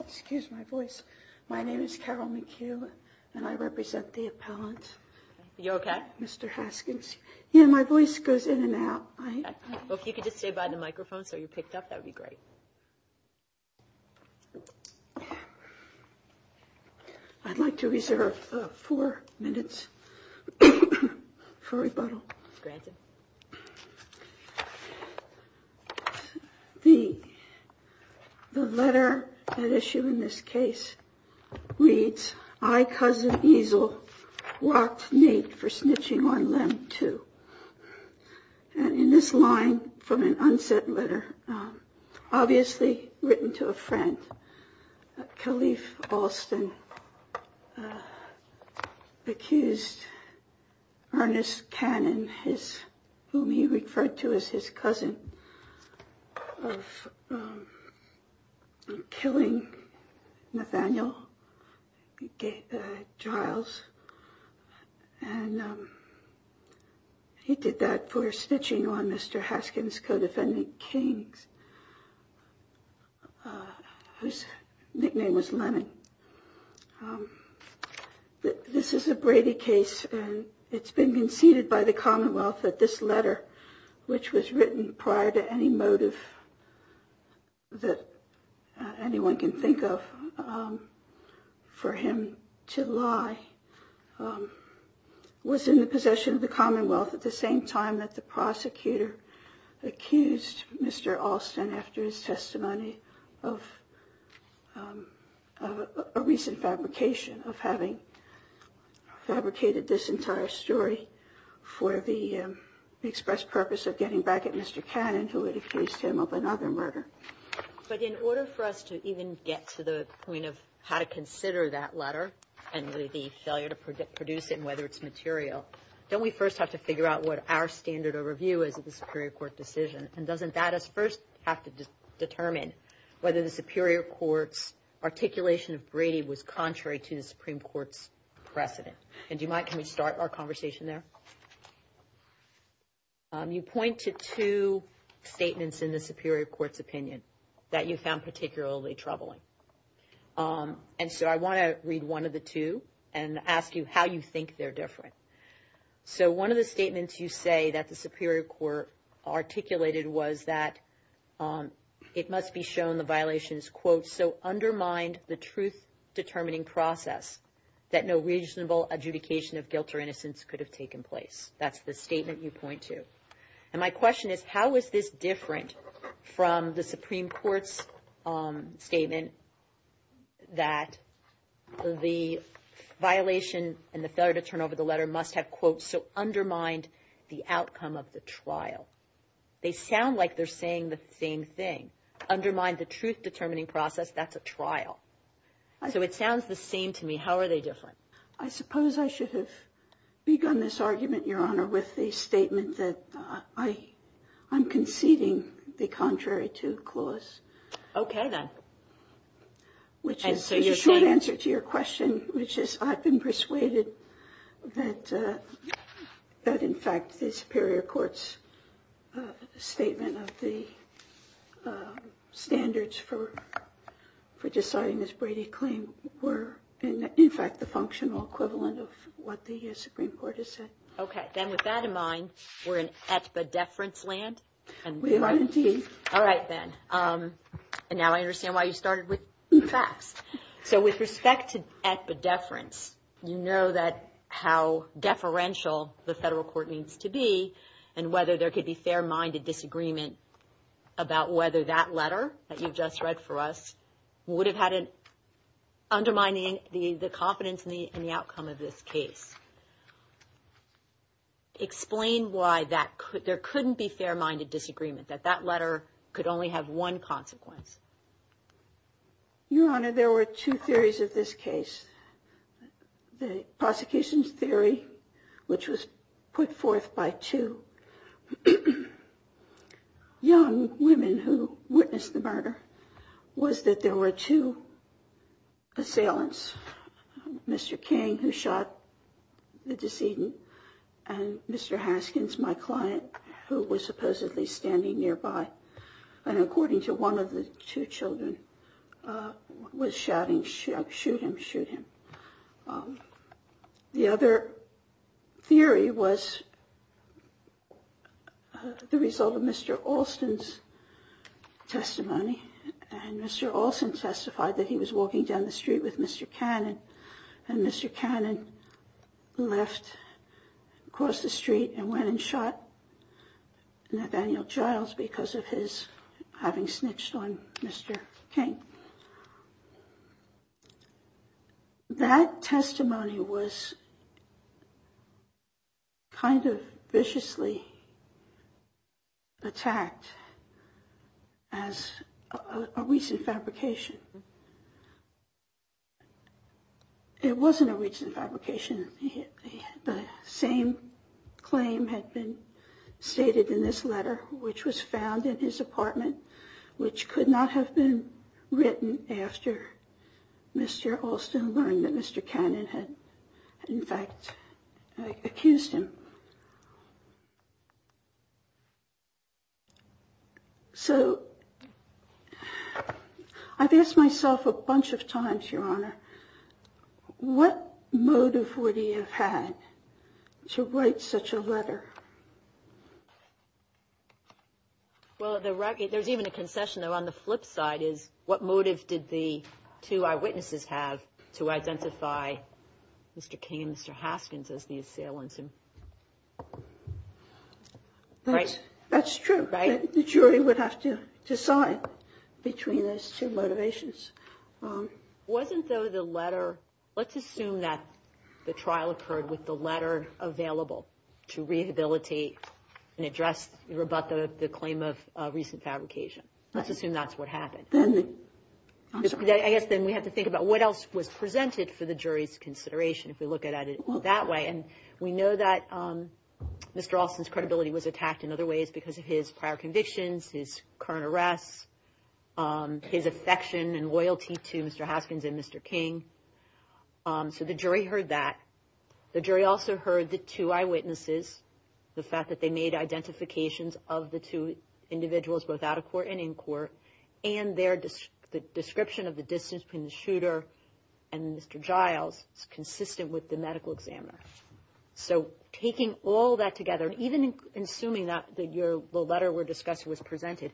excuse my voice my name is Carol McHugh and I represent the appellant you okay mr. Haskins yeah my voice goes in and out I hope you could just say by the microphone so you picked up that would be great I'd like to reserve four minutes for rebuttal the the letter that issue in this case reads I cousin easel walked Nate for snitching on them too and in this line from an unsent letter obviously written to a friend Calif Alston accused Ernest Cannon his whom he referred to as his cousin of killing Nathaniel Giles and he did that for snitching on mr. Haskins co-defendant Kings whose nickname was Lennon this is a Brady case and it's been conceded by the Commonwealth that this letter which was written prior to any motive that anyone can think of for him to lie was in the possession of the Commonwealth at the same time that the prosecutor accused mr. Alston after his testimony of a recent fabrication of having fabricated this entire story for the express purpose of getting back at mr. Cannon who would accuse him of another murder but in order for us to even get to the point of how to consider that letter and the failure to produce it whether it's material don't we first have to figure out what our standard of review is at the Superior Court decision and doesn't that us first have to determine whether the Superior Court's articulation of Brady was contrary to the Supreme Court's precedent and you might can we start our conversation there you point to two statements in the Superior Court's opinion that you found particularly troubling and so I want to read one of the two and ask you how you think they're different so one of the statements you say that the Superior Court articulated was that it must be shown the violations quote so undermined the truth-determining process that no reasonable adjudication of guilt or innocence could have taken place that's the statement you point to and my question is how is this different from the Supreme Court's statement that the violation and the failure to turn over the letter must have quote so undermined the outcome of the trial they sound like they're saying the same thing undermine the truth-determining process that's a trial so it sounds the same to me how are they different I suppose I should have begun this argument your honor with the statement that I I'm conceding the contrary to clause okay then which is a short answer to your question which is I've been persuaded that that in fact the Superior Court's statement of the standards for for deciding this Brady claim were in fact the functional equivalent of what the Supreme Court has said okay then with that in mind we're at the deference land and we want to do all right then and now I understand why you started with the facts so with respect to at the deference you know that how deferential the federal court needs to be and whether there could be fair-minded disagreement about whether that letter that you've just read for us would have had an undermining the the confidence in the in the outcome of this explain why that could there couldn't be fair-minded disagreement that that letter could only have one consequence your honor there were two theories of this case the prosecution's theory which was put forth by two young women who the decedent and mr. Haskins my client who was supposedly standing nearby and according to one of the two children was shouting shoot him shoot him the other theory was the result of mr. Alston's testimony and mr. Alston testified that he was walking down the street with mr. Cannon and mr. Cannon left across the street and went and shot Nathaniel Giles because of his having snitched on mr. Okay that testimony was kind of viciously attacked as a recent fabrication it wasn't a recent fabrication the same claim had been stated in this letter which was written after mr. Alston learned that mr. Cannon had in fact accused him so I've asked myself a bunch of times your honor what motive would he have had to write such a letter well there's even a concession though on the flip side is what motive did the two eyewitnesses have to identify mr. King mr. Haskins as the assailant right that's true right the jury would have to decide between those two motivations wasn't though the letter let's assume that the recent fabrication let's assume that's what happened I guess then we have to think about what else was presented for the jury's consideration if we look at it that way and we know that mr. Alston's credibility was attacked in other ways because of his prior convictions his current arrests his affection and loyalty to mr. Haskins and mr. King so the jury heard that the jury also heard the two eyewitnesses the fact that they made identifications of the two individuals without a court and in court and they're just the description of the distance between the shooter and mr. Giles it's consistent with the medical examiner so taking all that together even assuming that that your letter were discussed was presented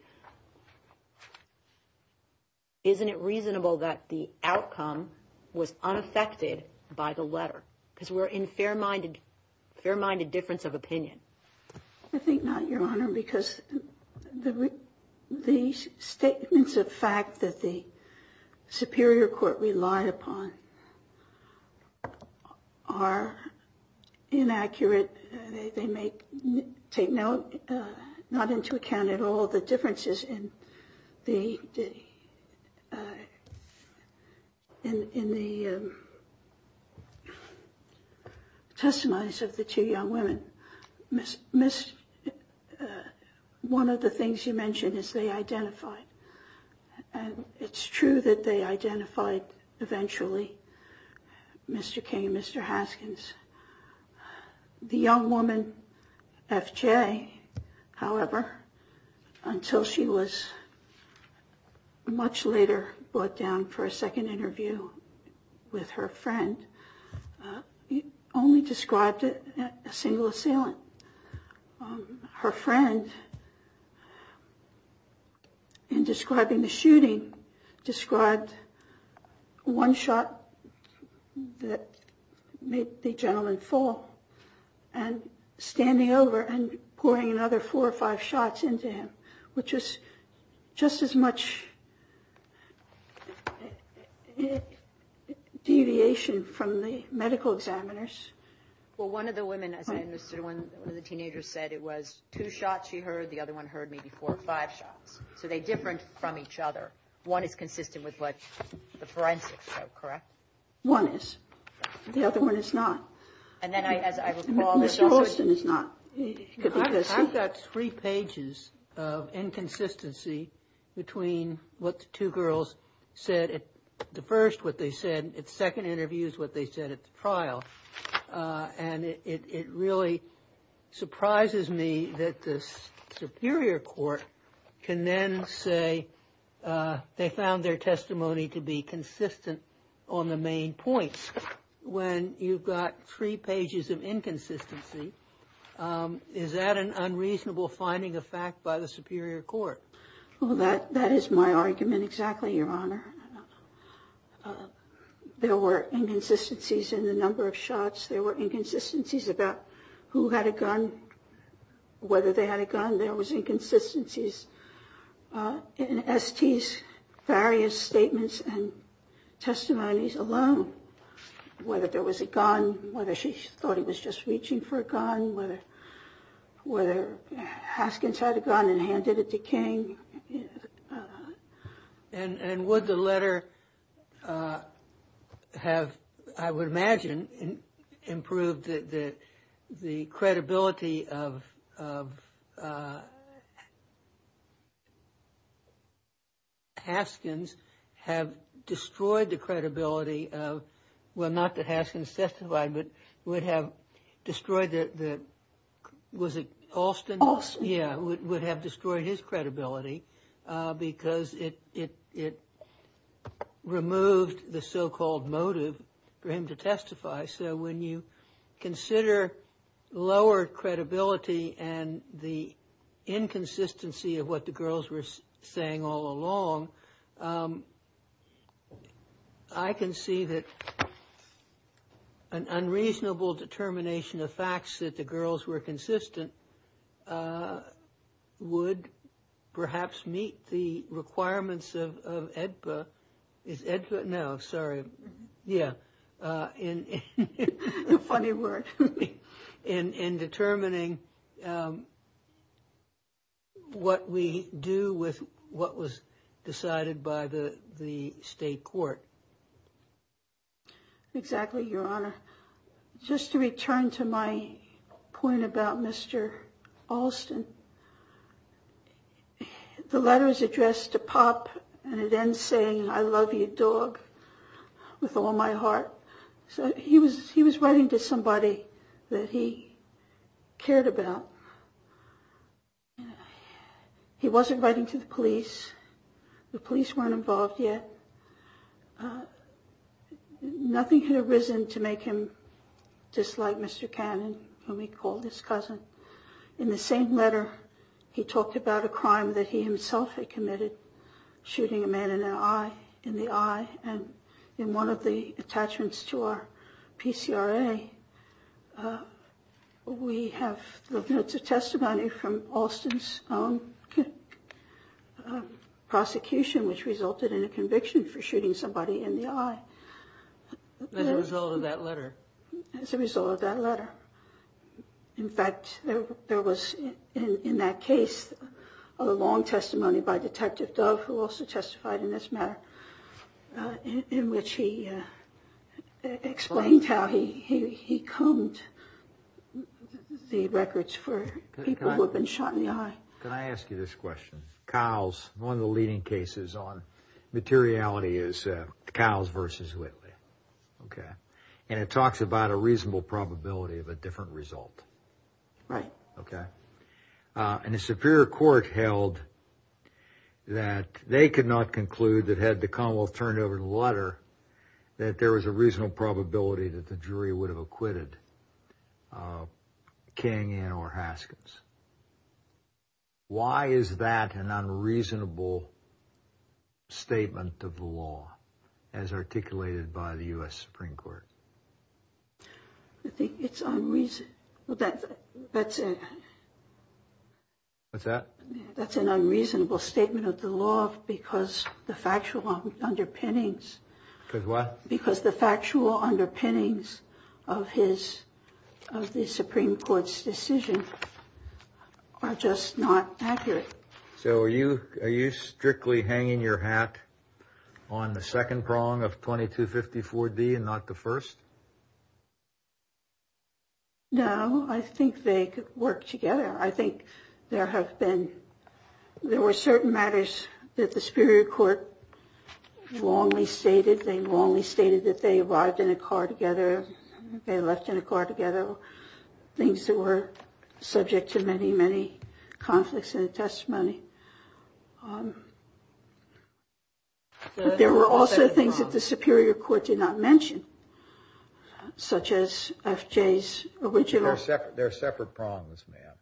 isn't it reasonable that the outcome was unaffected by the letter because we're in fair-minded fair-minded difference of opinion I think not your honor because the these statements of fact that the Superior Court relied upon are inaccurate they testifies of the two young women miss miss one of the things you mentioned is they identified and it's true that they identified eventually mr. King mr. Haskins the young woman FJ however until she was much later brought down for a second interview with her friend only described it a single assailant her friend in describing the shooting described one shot that made the which is just as much deviation from the medical examiners well one of the women as I understood when the teenagers said it was two shots she heard the other one heard me before five shots so they different from each other one is consistent with what the forensic show correct one is the inconsistency between what the two girls said at the first what they said its second interviews what they said at the trial and it really surprises me that this Superior Court can then say they found their testimony to be consistent on the main points when you've three pages of inconsistency is that an unreasonable finding a fact by the Superior Court well that that is my argument exactly your honor there were inconsistencies in the number of shots there were inconsistencies about who had a gun whether they had a gun there was inconsistencies in STs various statements and testimonies alone whether there was a gun whether she thought he was just reaching for a gun whether whether Haskins had a gun and handed it to King and and would the letter have I would imagine improved the the credibility of of Haskins have destroyed the credibility of well not that Haskins testified but would have destroyed that that was it Alston yeah would have destroyed his credibility because it it it removed the so-called motive for him to testify so when you consider lower credibility and the inconsistency of what the girls were saying all along I can see that an meet the requirements of EDPA is EDPA no sorry yeah in a funny word in in determining what we do with what was decided by the the state court exactly your honor just to return to my point about Mr. Alston the letter is addressed to Pop and it ends saying I love you dog with all my heart so he was he was writing to somebody that he cared about he wasn't writing to the police the police weren't involved yet nothing had arisen to make him dislike Mr. Cannon when we called his cousin in the same letter he talked about a crime that he himself had committed shooting a man in an eye in the eye and in one of the attachments to our PCRA we have the notes of testimony from Alston's own prosecution which resulted in a conviction for shooting somebody in the eye as a result of that letter in fact there was in that case a long testimony by Detective Dove who also testified in this matter in which he explained how he he combed the records for people who have been shot in the eye can I ask you this question cows one of the leading cases on materiality is cows versus Whitley okay and it talks about a reasonable probability of a different result right okay and a superior court held that they could not conclude that had the Commonwealth turned over the letter that there was a reasonable probability that the jury would have acquitted King and or Haskins why is that an unreasonable statement of the law as articulated by the US Supreme Court I think it's unreasonable that that's it what's that that's an unreasonable statement of the law because the factual underpinnings because what because the factual underpinnings of his of the Supreme Court's decision are just not accurate so are you are you strictly hanging your hat on the second prong of 2254 D and not the first no I think they could work together I think there have been there were certain matters that the car together they left in a car together things that were subject to many many conflicts in testimony there were also things that the Superior Court did not mention such as FJ's original set their separate prongs man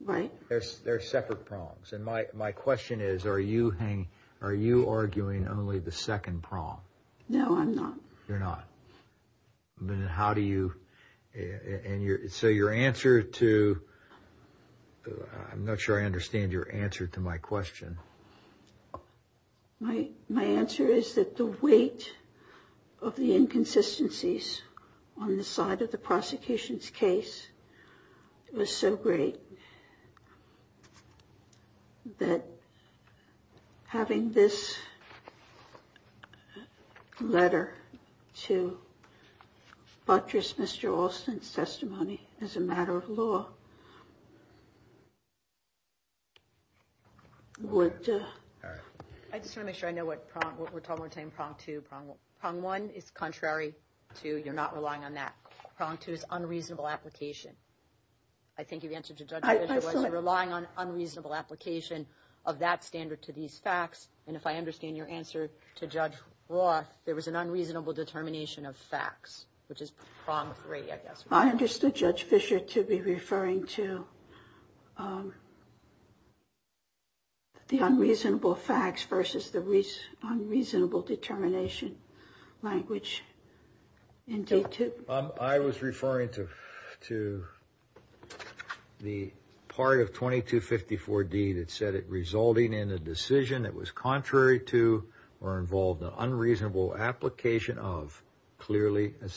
right there's their separate prongs and my question is are you hanging are you arguing only the second prong no I'm not you're not then how do you and you're so your answer to I'm not sure I understand your answer to my question my my answer is that the weight of the inconsistencies on the side of the prosecution's case it was so that having this letter to butchers mr. Alston's testimony as a matter of law would I just want to make sure I know what we're talking about saying prong to prong prong one is contrary to you're not relying on that prong to is unreasonable application I think you've answered to judge I was relying on unreasonable application of that standard to these facts and if I understand your answer to judge Roth there was an unreasonable determination of facts which is wrong I understood judge Fisher to be referring to the unreasonable facts versus unreasonable determination language indeed to I was referring to to the part of 2254 D that said it resulting in a decision that was contrary to or involved an unreasonable application of clearly but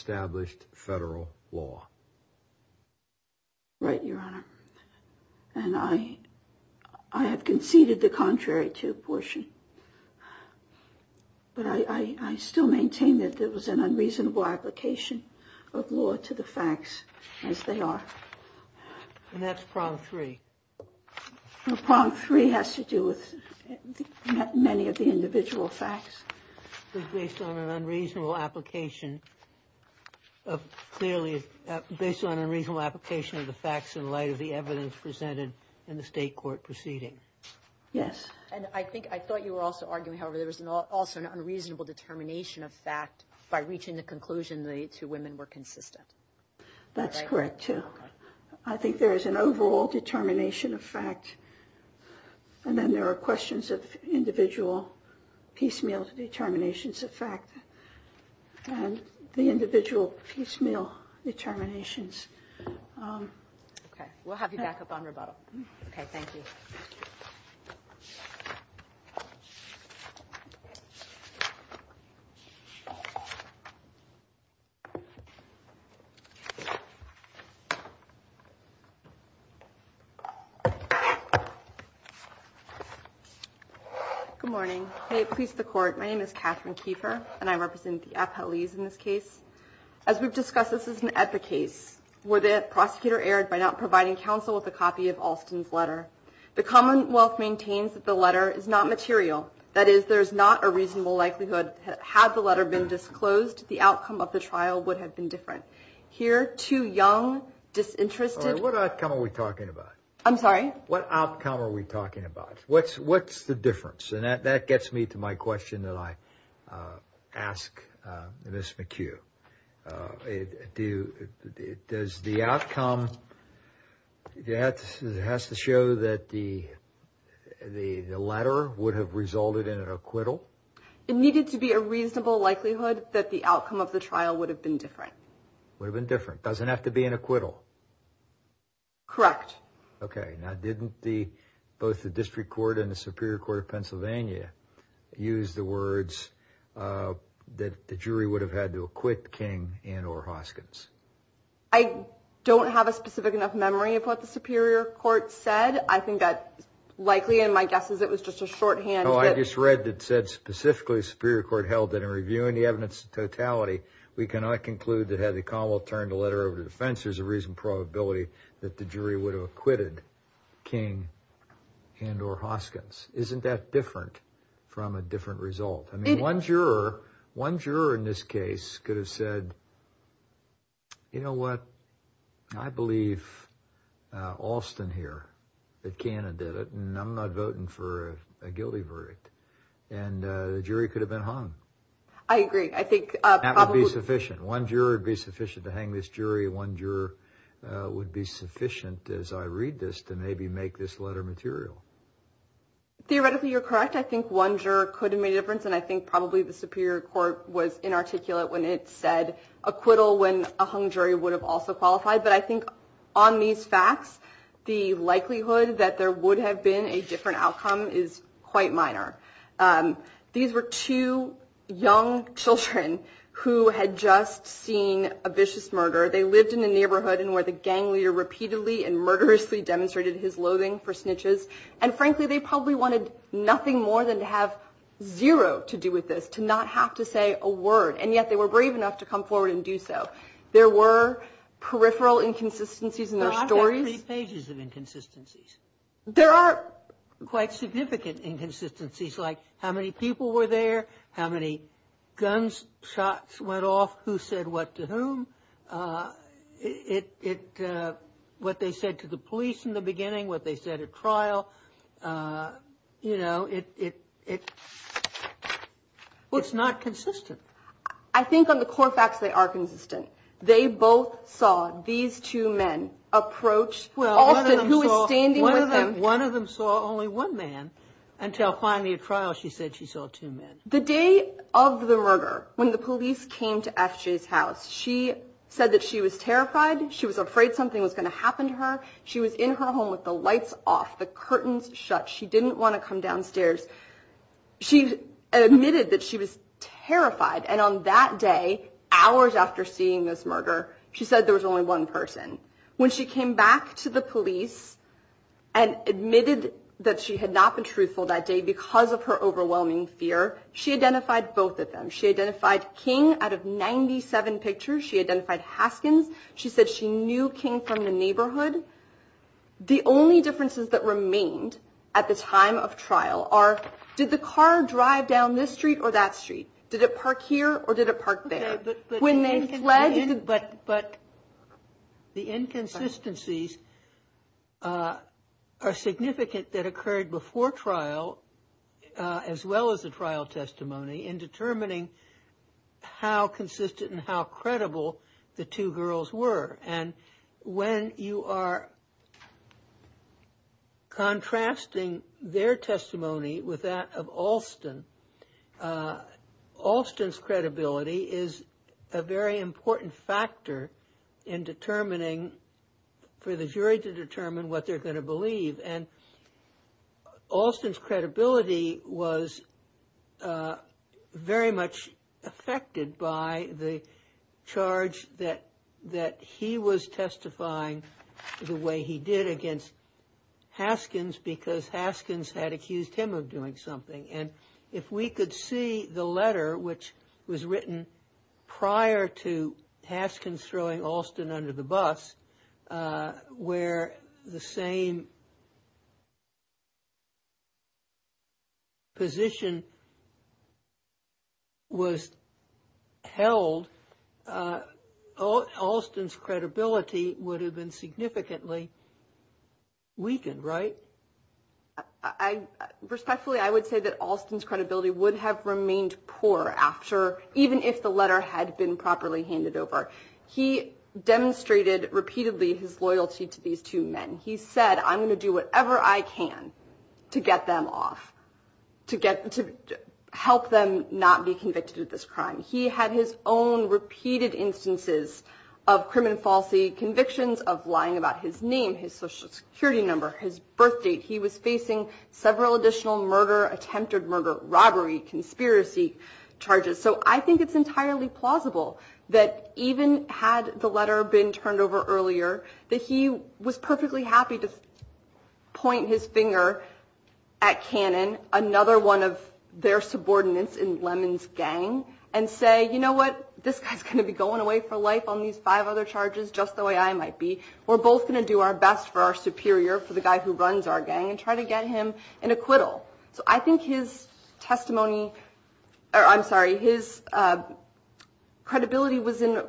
I I still maintain that there was an unreasonable application of law to the facts as they are and that's prong three prong three has to do with many of the individual facts based on an unreasonable application of clearly based on unreasonable application of the facts in light of the evidence presented in the state court proceeding yes and I think I thought you were also arguing however there was an also an unreasonable determination of fact by reaching the conclusion the two women were consistent that's correct too I think there is an overall determination of fact and then there are questions of individual piecemeal determinations of fact and the individual piecemeal determinations okay we'll have you back up on rebuttal okay thank you good morning hey please the court my name is Catherine Kiefer and I represent the appellees in this case as we've discussed this is an epic case where the prosecutor erred by not providing counsel with a copy of Alston's letter the Commonwealth maintains that the letter is not material that is there's not a reasonable likelihood had the letter been disclosed the outcome of the trial would have been different here too young disinterested what outcome are we talking about I'm sorry what outcome are we talking about what's what's the difference and that that gets me to my that has to show that the the the letter would have resulted in an acquittal it needed to be a reasonable likelihood that the outcome of the trial would have been different would have been different doesn't have to be an acquittal correct okay now didn't the both the district court and the Superior Court of Pennsylvania use the words that the jury would have had to acquit King and or Hoskins I don't have a specific enough memory of what the Superior Court said I think that likely and my guess is it was just a shorthand oh I just read that said specifically Superior Court held that in reviewing the evidence totality we cannot conclude that had the Commonwealth turned a letter over to defense there's a reason probability that the jury would have acquitted King and or Hoskins isn't that different from a different result I mean one juror one juror in this case could have said you know what I believe Alston here that can and did it and I'm not voting for a guilty verdict and the jury could have been hung I agree I think that would be sufficient one juror would be sufficient to hang this jury one juror would be sufficient as I read this to maybe make this letter material theoretically you're correct I think one juror could have made a think probably the Superior Court was inarticulate when it said acquittal when a hung jury would have also qualified but I think on these facts the likelihood that there would have been a different outcome is quite minor these were two young children who had just seen a vicious murder they lived in the neighborhood and where the gang leader repeatedly and murderously demonstrated his loathing for snitches and frankly they probably wanted nothing more than to have zero to do with this to not have to say a word and yet they were brave enough to come forward and do so there were peripheral inconsistencies in their stories pages of inconsistencies there are quite significant inconsistencies like how many people were there how many guns shots went off who said what to whom it what they said to the police in the beginning what they said at trial you know it it what's not consistent I think on the core facts they are consistent they both saw these two men approach well who is standing one of them one of them saw only one man until finally at trial she said she was terrified she was afraid something was going to happen to her she was in her home with the lights off the curtains shut she didn't want to come downstairs she admitted that she was terrified and on that day hours after seeing this murder she said there was only one person when she came back to the police and admitted that she had not been truthful that day because of her overwhelming fear she identified both of them she identified King out of 97 pictures she identified Haskins she said she knew King from the neighborhood the only differences that remained at the time of trial are did the car drive down this street or that street did it park here or did it park there when they fled but but the inconsistencies are significant that occurred before trial as well as a trial testimony in determining how consistent and how credible the two girls were and when you are contrasting their testimony with that of Alston Alston's credibility is a very important factor in determining for the jury to determine what they're going to believe and Alston's very much affected by the charge that that he was testifying the way he did against Haskins because Haskins had accused him of doing something and if we could see the letter which was written prior to Haskins throwing Alston under the bus where the same position was held Alston's credibility would have been significantly weakened right I respectfully I would say that Alston's credibility would have remained poor after even if the letter had been properly handed over he demonstrated repeatedly his loyalty to these two men he said I'm going to do whatever I can to get them off to get to help them not be convicted of this crime he had his own repeated instances of crime and falsely convictions of lying about his name his social security number his birth date he was facing several additional murder attempted murder robbery conspiracy charges so I think it's entirely plausible that even had the letter been turned over earlier that he was perfectly happy to point his finger at Cannon another one of their subordinates in Lemon's gang and say you know what this guy's going to be going away for life on these five other charges just the way I might be we're both going to do our best for our superior for the guy who runs our gang and try to get him an acquittal so I think his I'm sorry his credibility was in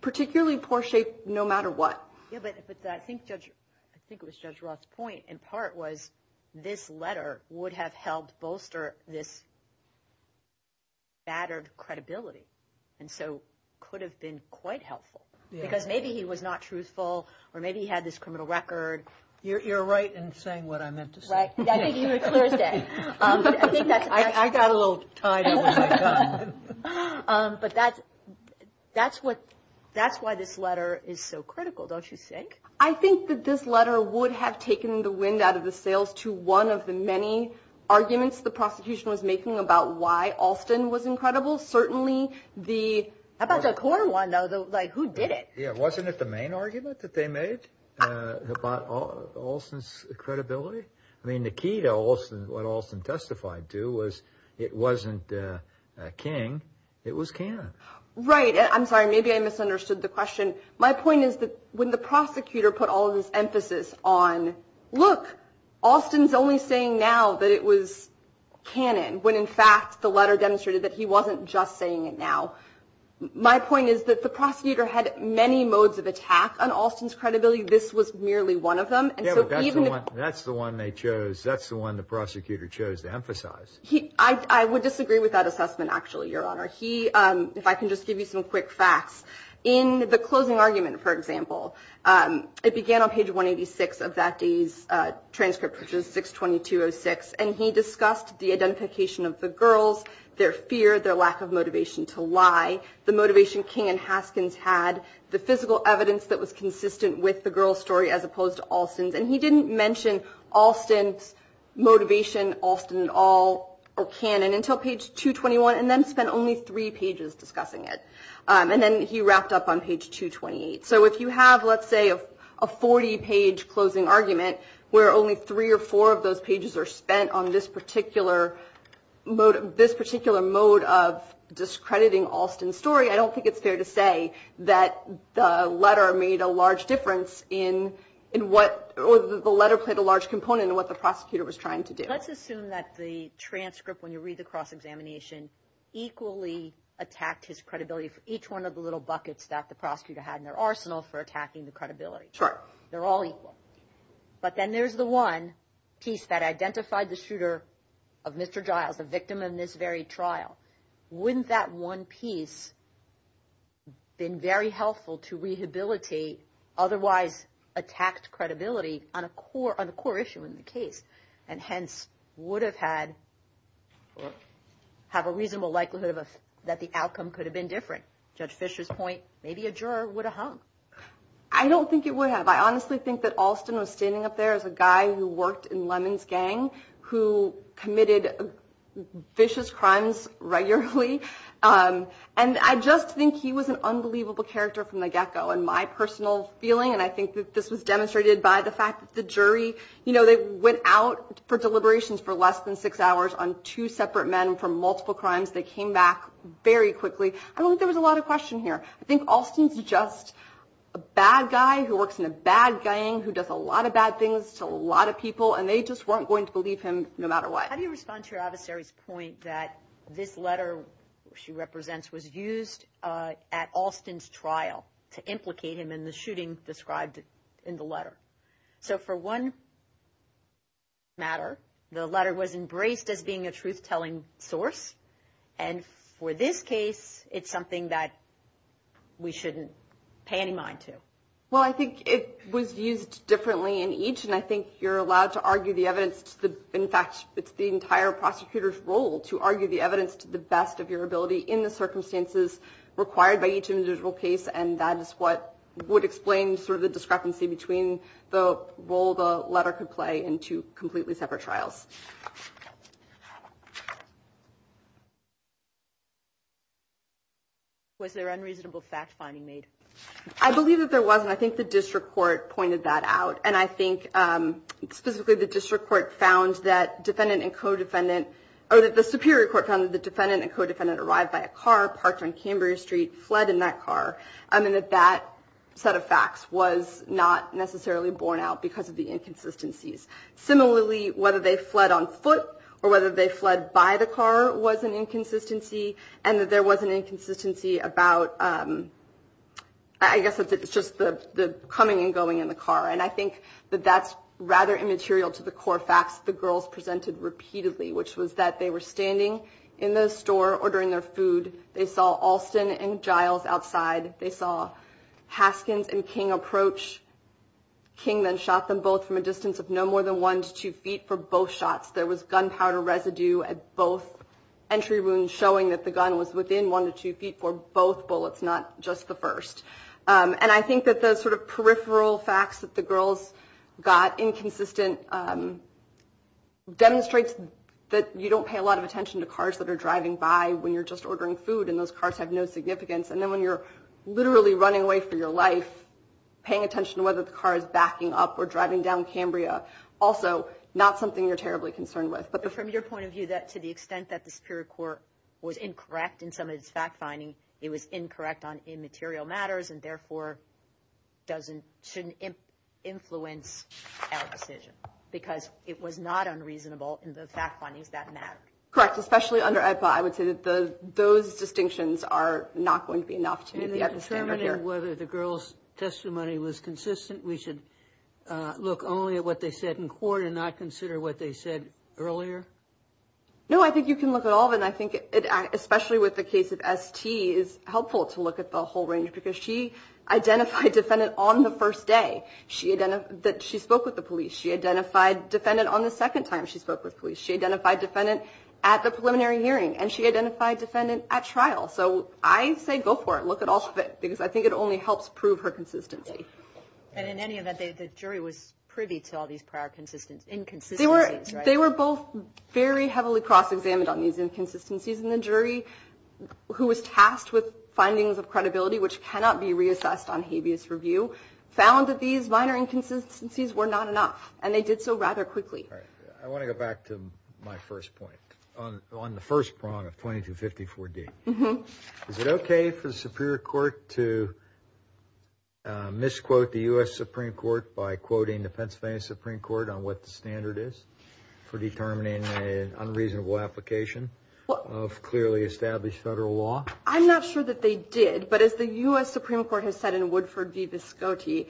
particularly poor shape no matter what but I think judge I think it was judge Roth's point in part was this letter would have helped bolster this battered credibility and so could have been quite helpful because maybe he was not truthful or maybe he had this criminal record you're right in saying what I meant but that's that's what that's why this letter is so critical don't you think I think that this letter would have taken the wind out of the sails to one of the many arguments the prosecution was making about why Alston was incredible certainly the about the core one though though like who did it yeah wasn't it the main argument that they made about Alston's credibility I mean the key to Alston what Alston testified to was it wasn't King it was Cannon right I'm sorry maybe I misunderstood the question my point is that when the prosecutor put all of his emphasis on look Alston's only saying now that it was Cannon when in fact the letter demonstrated that he wasn't just saying it now my point is that the prosecutor had many modes of attack on Alston's credibility this was merely one of them that's the one they chose that's the one the prosecutor chose to emphasize he I would disagree with that assessment actually your honor he if I can just give you some quick facts in the closing argument for example it began on page 186 of that day's transcript which is 622 oh six and he discussed the identification of the girls their fear their lack of motivation to lie the motivation King and Haskins had the physical evidence that was consistent with the girls story as opposed to Alston's and he didn't mention Alston's motivation Alston all or cannon until page 221 and then spent only three pages discussing it and then he wrapped up on page 228 so if you have let's say a 40 page closing argument where only three or four of those pages are spent on this particular mode of this particular mode of discrediting Alston story I don't think it's fair to say that the letter made a large difference in in what or the letter played a large component of what the prosecutor was trying to do let's assume that the transcript when you read the cross-examination equally attacked his credibility for each one of the little buckets that the prosecutor had in their arsenal for attacking the credibility chart they're all equal but then there's the one piece that identified the shooter of mr. Giles a victim in this very trial wouldn't that one piece been very helpful to rehabilitate otherwise attacked credibility on a core on a core issue in the case and hence would have had have a reasonable likelihood of us that the outcome could have been different judge Fisher's point maybe a juror would have hung I don't think it would have I honestly think that Alston was standing up there as a guy who worked in lemons gang who committed vicious crimes regularly and I just think he was an unbelievable character from the get-go and my personal feeling and I think that this was demonstrated by the fact that the jury you know they went out for deliberations for less than six hours on two separate men from multiple crimes they came back very quickly I don't think there was a lot of question here I think Alston's just a bad guy who works in a bad gang who does a lot of bad things to a lot of people and they just weren't going to believe him no matter what how do you respond to your adversaries point that this letter she represents was used at Alston's trial to implicate him in the shooting described in the letter so for one matter the letter was embraced as being a truth-telling source and for this case it's something that we shouldn't pay any mind to well I think it was used differently in each and I think you're allowed to argue the evidence to the in fact it's the entire prosecutors role to argue the evidence to the best of your ability in the circumstances required by each individual case and that is what would explain sort of the discrepancy between the role the letter could play in two completely separate trials was there unreasonable fact-finding made I believe that there wasn't I think the district court pointed that out and I think specifically the district court found that defendant and co-defendant or that the Superior Court found that the defendant and co-defendant arrived by a car parked on Cambria Street fled in that car and that that set of facts was not necessarily borne out because of the inconsistencies similarly whether they fled on foot or whether they fled by the car was an inconsistency and that there was an inconsistency about I guess it's just the coming and going in the car and I think that that's rather immaterial to the core facts the girls presented repeatedly which was that they were standing in the store ordering their food they saw Alston and Giles outside they saw Haskins and King approach King then shot them both from a distance of no more than one to two feet for both shots there was gunpowder residue at both entry wounds showing that the gun was within one to two feet for both bullets not just the first and I think that the sort of peripheral facts that the girls got inconsistent demonstrates that you don't pay a lot of attention to cars that are driving by when you're just ordering food and those cars have no significance and then when you're literally running away for your life paying attention to whether the car is backing up or driving down Cambria also not something you're terribly concerned with but from your point of view that to the extent that the Superior Court was incorrect in some of its fact-finding it was incorrect on immaterial matters and therefore doesn't shouldn't influence our decision because it was not unreasonable in the fact findings that matter correct especially under a pie would say that the those distinctions are not going to be enough to determine whether the girls testimony was consistent we should look only at what they said in court and not consider what they said earlier no I think you can look at all of and I think it especially with the case of ST is helpful to look at the whole range because she identified defendant on the first day she identified that she spoke with the police she identified defendant on the second time she spoke with police she identified defendant at the preliminary hearing and she identified defendant at trial so I say go for it look at all of it because I think it only helps prove her consistency and in any event the jury was privy to all these prior consistent inconsistency they were both very heavily cross-examined on these inconsistencies in the jury who was tasked with found that these minor inconsistencies were not enough and they did so rather quickly I want to go back to my first point on the first prong of 2254 D mm-hmm is it okay for the Superior Court to misquote the US Supreme Court by quoting the Pennsylvania Supreme Court on what the standard is for determining an unreasonable application of clearly established federal law I'm not sure that they did but as the US Supreme Court has said in Woodford v. biscotti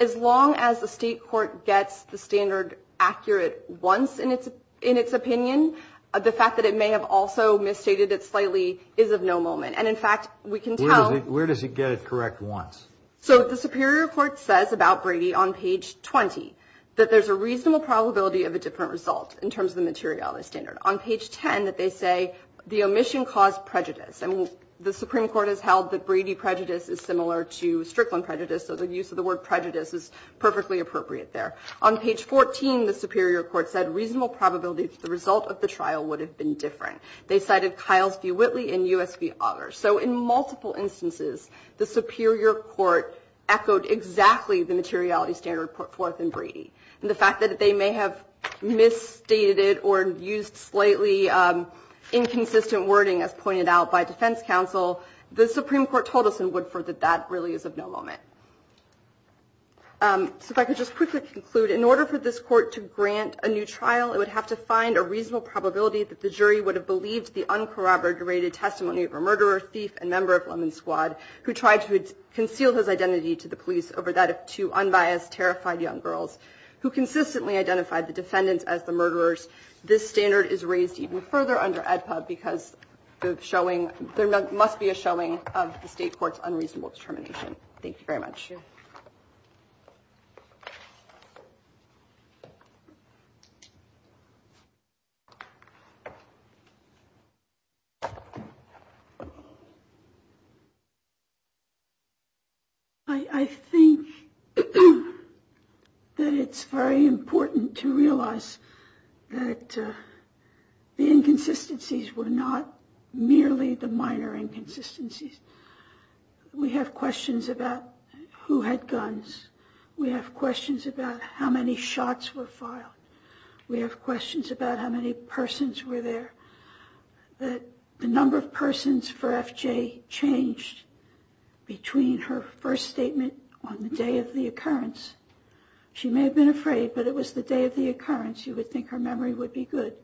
as long as the State Court gets the standard accurate once in its in its opinion the fact that it may have also misstated it slightly is of no moment and in fact we can tell where does he get it correct once so the Superior Court says about Brady on page 20 that there's a reasonable probability of a different result in terms of the material the standard on page 10 that they say the omission caused prejudice and the Supreme Court has held that Brady prejudice is similar to Strickland prejudice so the use of the word prejudice is perfectly appropriate there on page 14 the Superior Court said reasonable probability to the result of the trial would have been different they cited Kiles v. Whitley in US v. auger so in multiple instances the Superior Court echoed exactly the materiality standard put forth in Brady and the fact that they may have misstated it or used slightly inconsistent wording as pointed out by defense counsel the Supreme Court told us in Woodford that that really is of no moment so if I could just quickly conclude in order for this court to grant a new trial it would have to find a reasonable probability that the jury would have believed the uncorroborated testimony of a murderer thief and member of Lemon Squad who tried to conceal his identity to the police over that of two unbiased terrified young girls who consistently identified the defendants as the murderers this standard is raised even further under EDPA because the showing there must be a showing of the state court's unreasonable determination thank you very much I think that it's very important to realize that the inconsistencies were not merely the minor inconsistencies we have questions about who had guns we have questions about how many shots were filed we have questions about how many persons were there that the number of persons for FJ changed between her first statement on the day of the occurrence she may have been afraid but it was the day of the occurrence you would think her memory would be good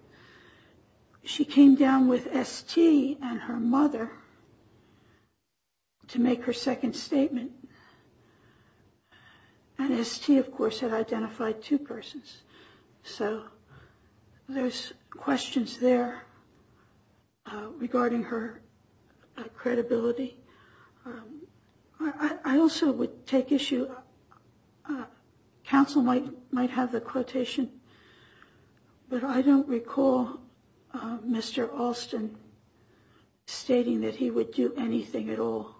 she came down with ST and her mother to make her second statement and ST of course had identified two persons so there's questions there regarding her credibility I also would take issue counsel might might have the stating that he would do anything at all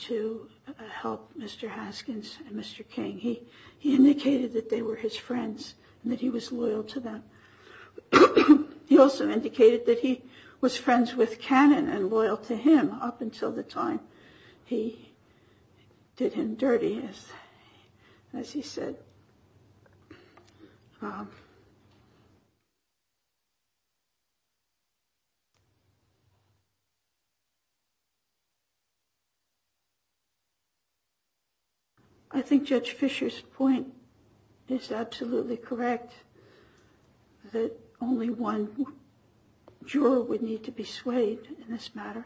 to help Mr. Haskins and Mr. King he he indicated that they were his friends and that he was loyal to them he also indicated that he was friends with Canon and loyal to him up until the time he did him dirty as as he said I think Judge Fisher's point is absolutely correct that only one juror would need to be swayed in this matter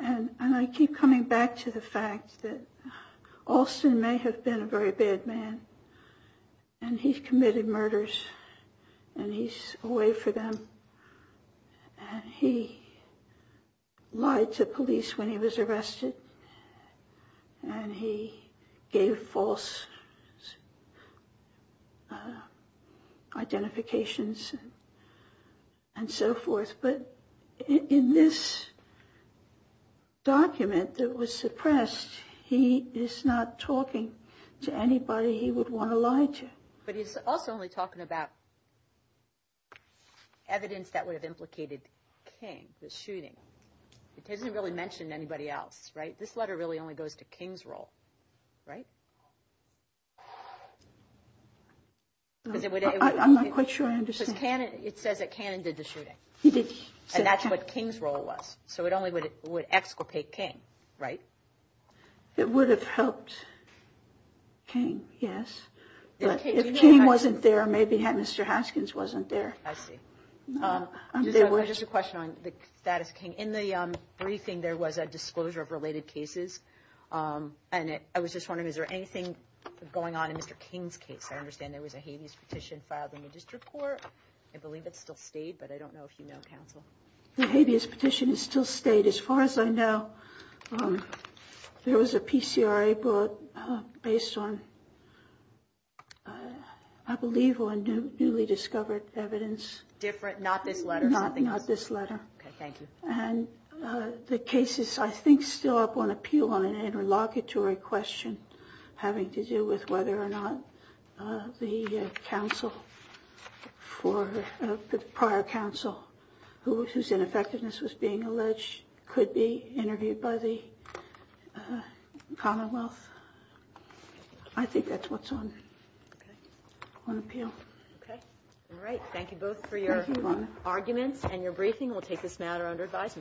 and and I have been a very bad man and he's committed murders and he's away for them and he lied to police when he was arrested and he gave false identifications and so forth but in this document that was suppressed he is not talking to anybody he would want to lie to. But he's also only talking about evidence that would have implicated King, the shooting. It doesn't really mention anybody else right this letter really only goes to King's role right? I'm not quite sure I understand. It says that Canon did the shooting and that's what King's role was so it only would exculpate King right? It would have helped King yes. If King wasn't there maybe Mr. Haskins wasn't there. I see. Just a question on the status of King in the briefing there was a I was just wondering is there anything going on in Mr. King's case? I understand there was a habeas petition filed in the district court. I believe it's still stayed but I don't know if you know counsel. The habeas petition is still stayed as far as I know there was a PCRA brought based on I believe on newly discovered evidence. Different not this letter? Not this letter. Okay thank you. And the case is I think still up on appeal on an interlocutory question having to do with whether or not the counsel for the prior counsel whose ineffectiveness was being alleged could be interviewed by the commonwealth. I think that's what's on appeal. Okay all right thank you both for your arguments and your briefing. We'll take this matter under advisement.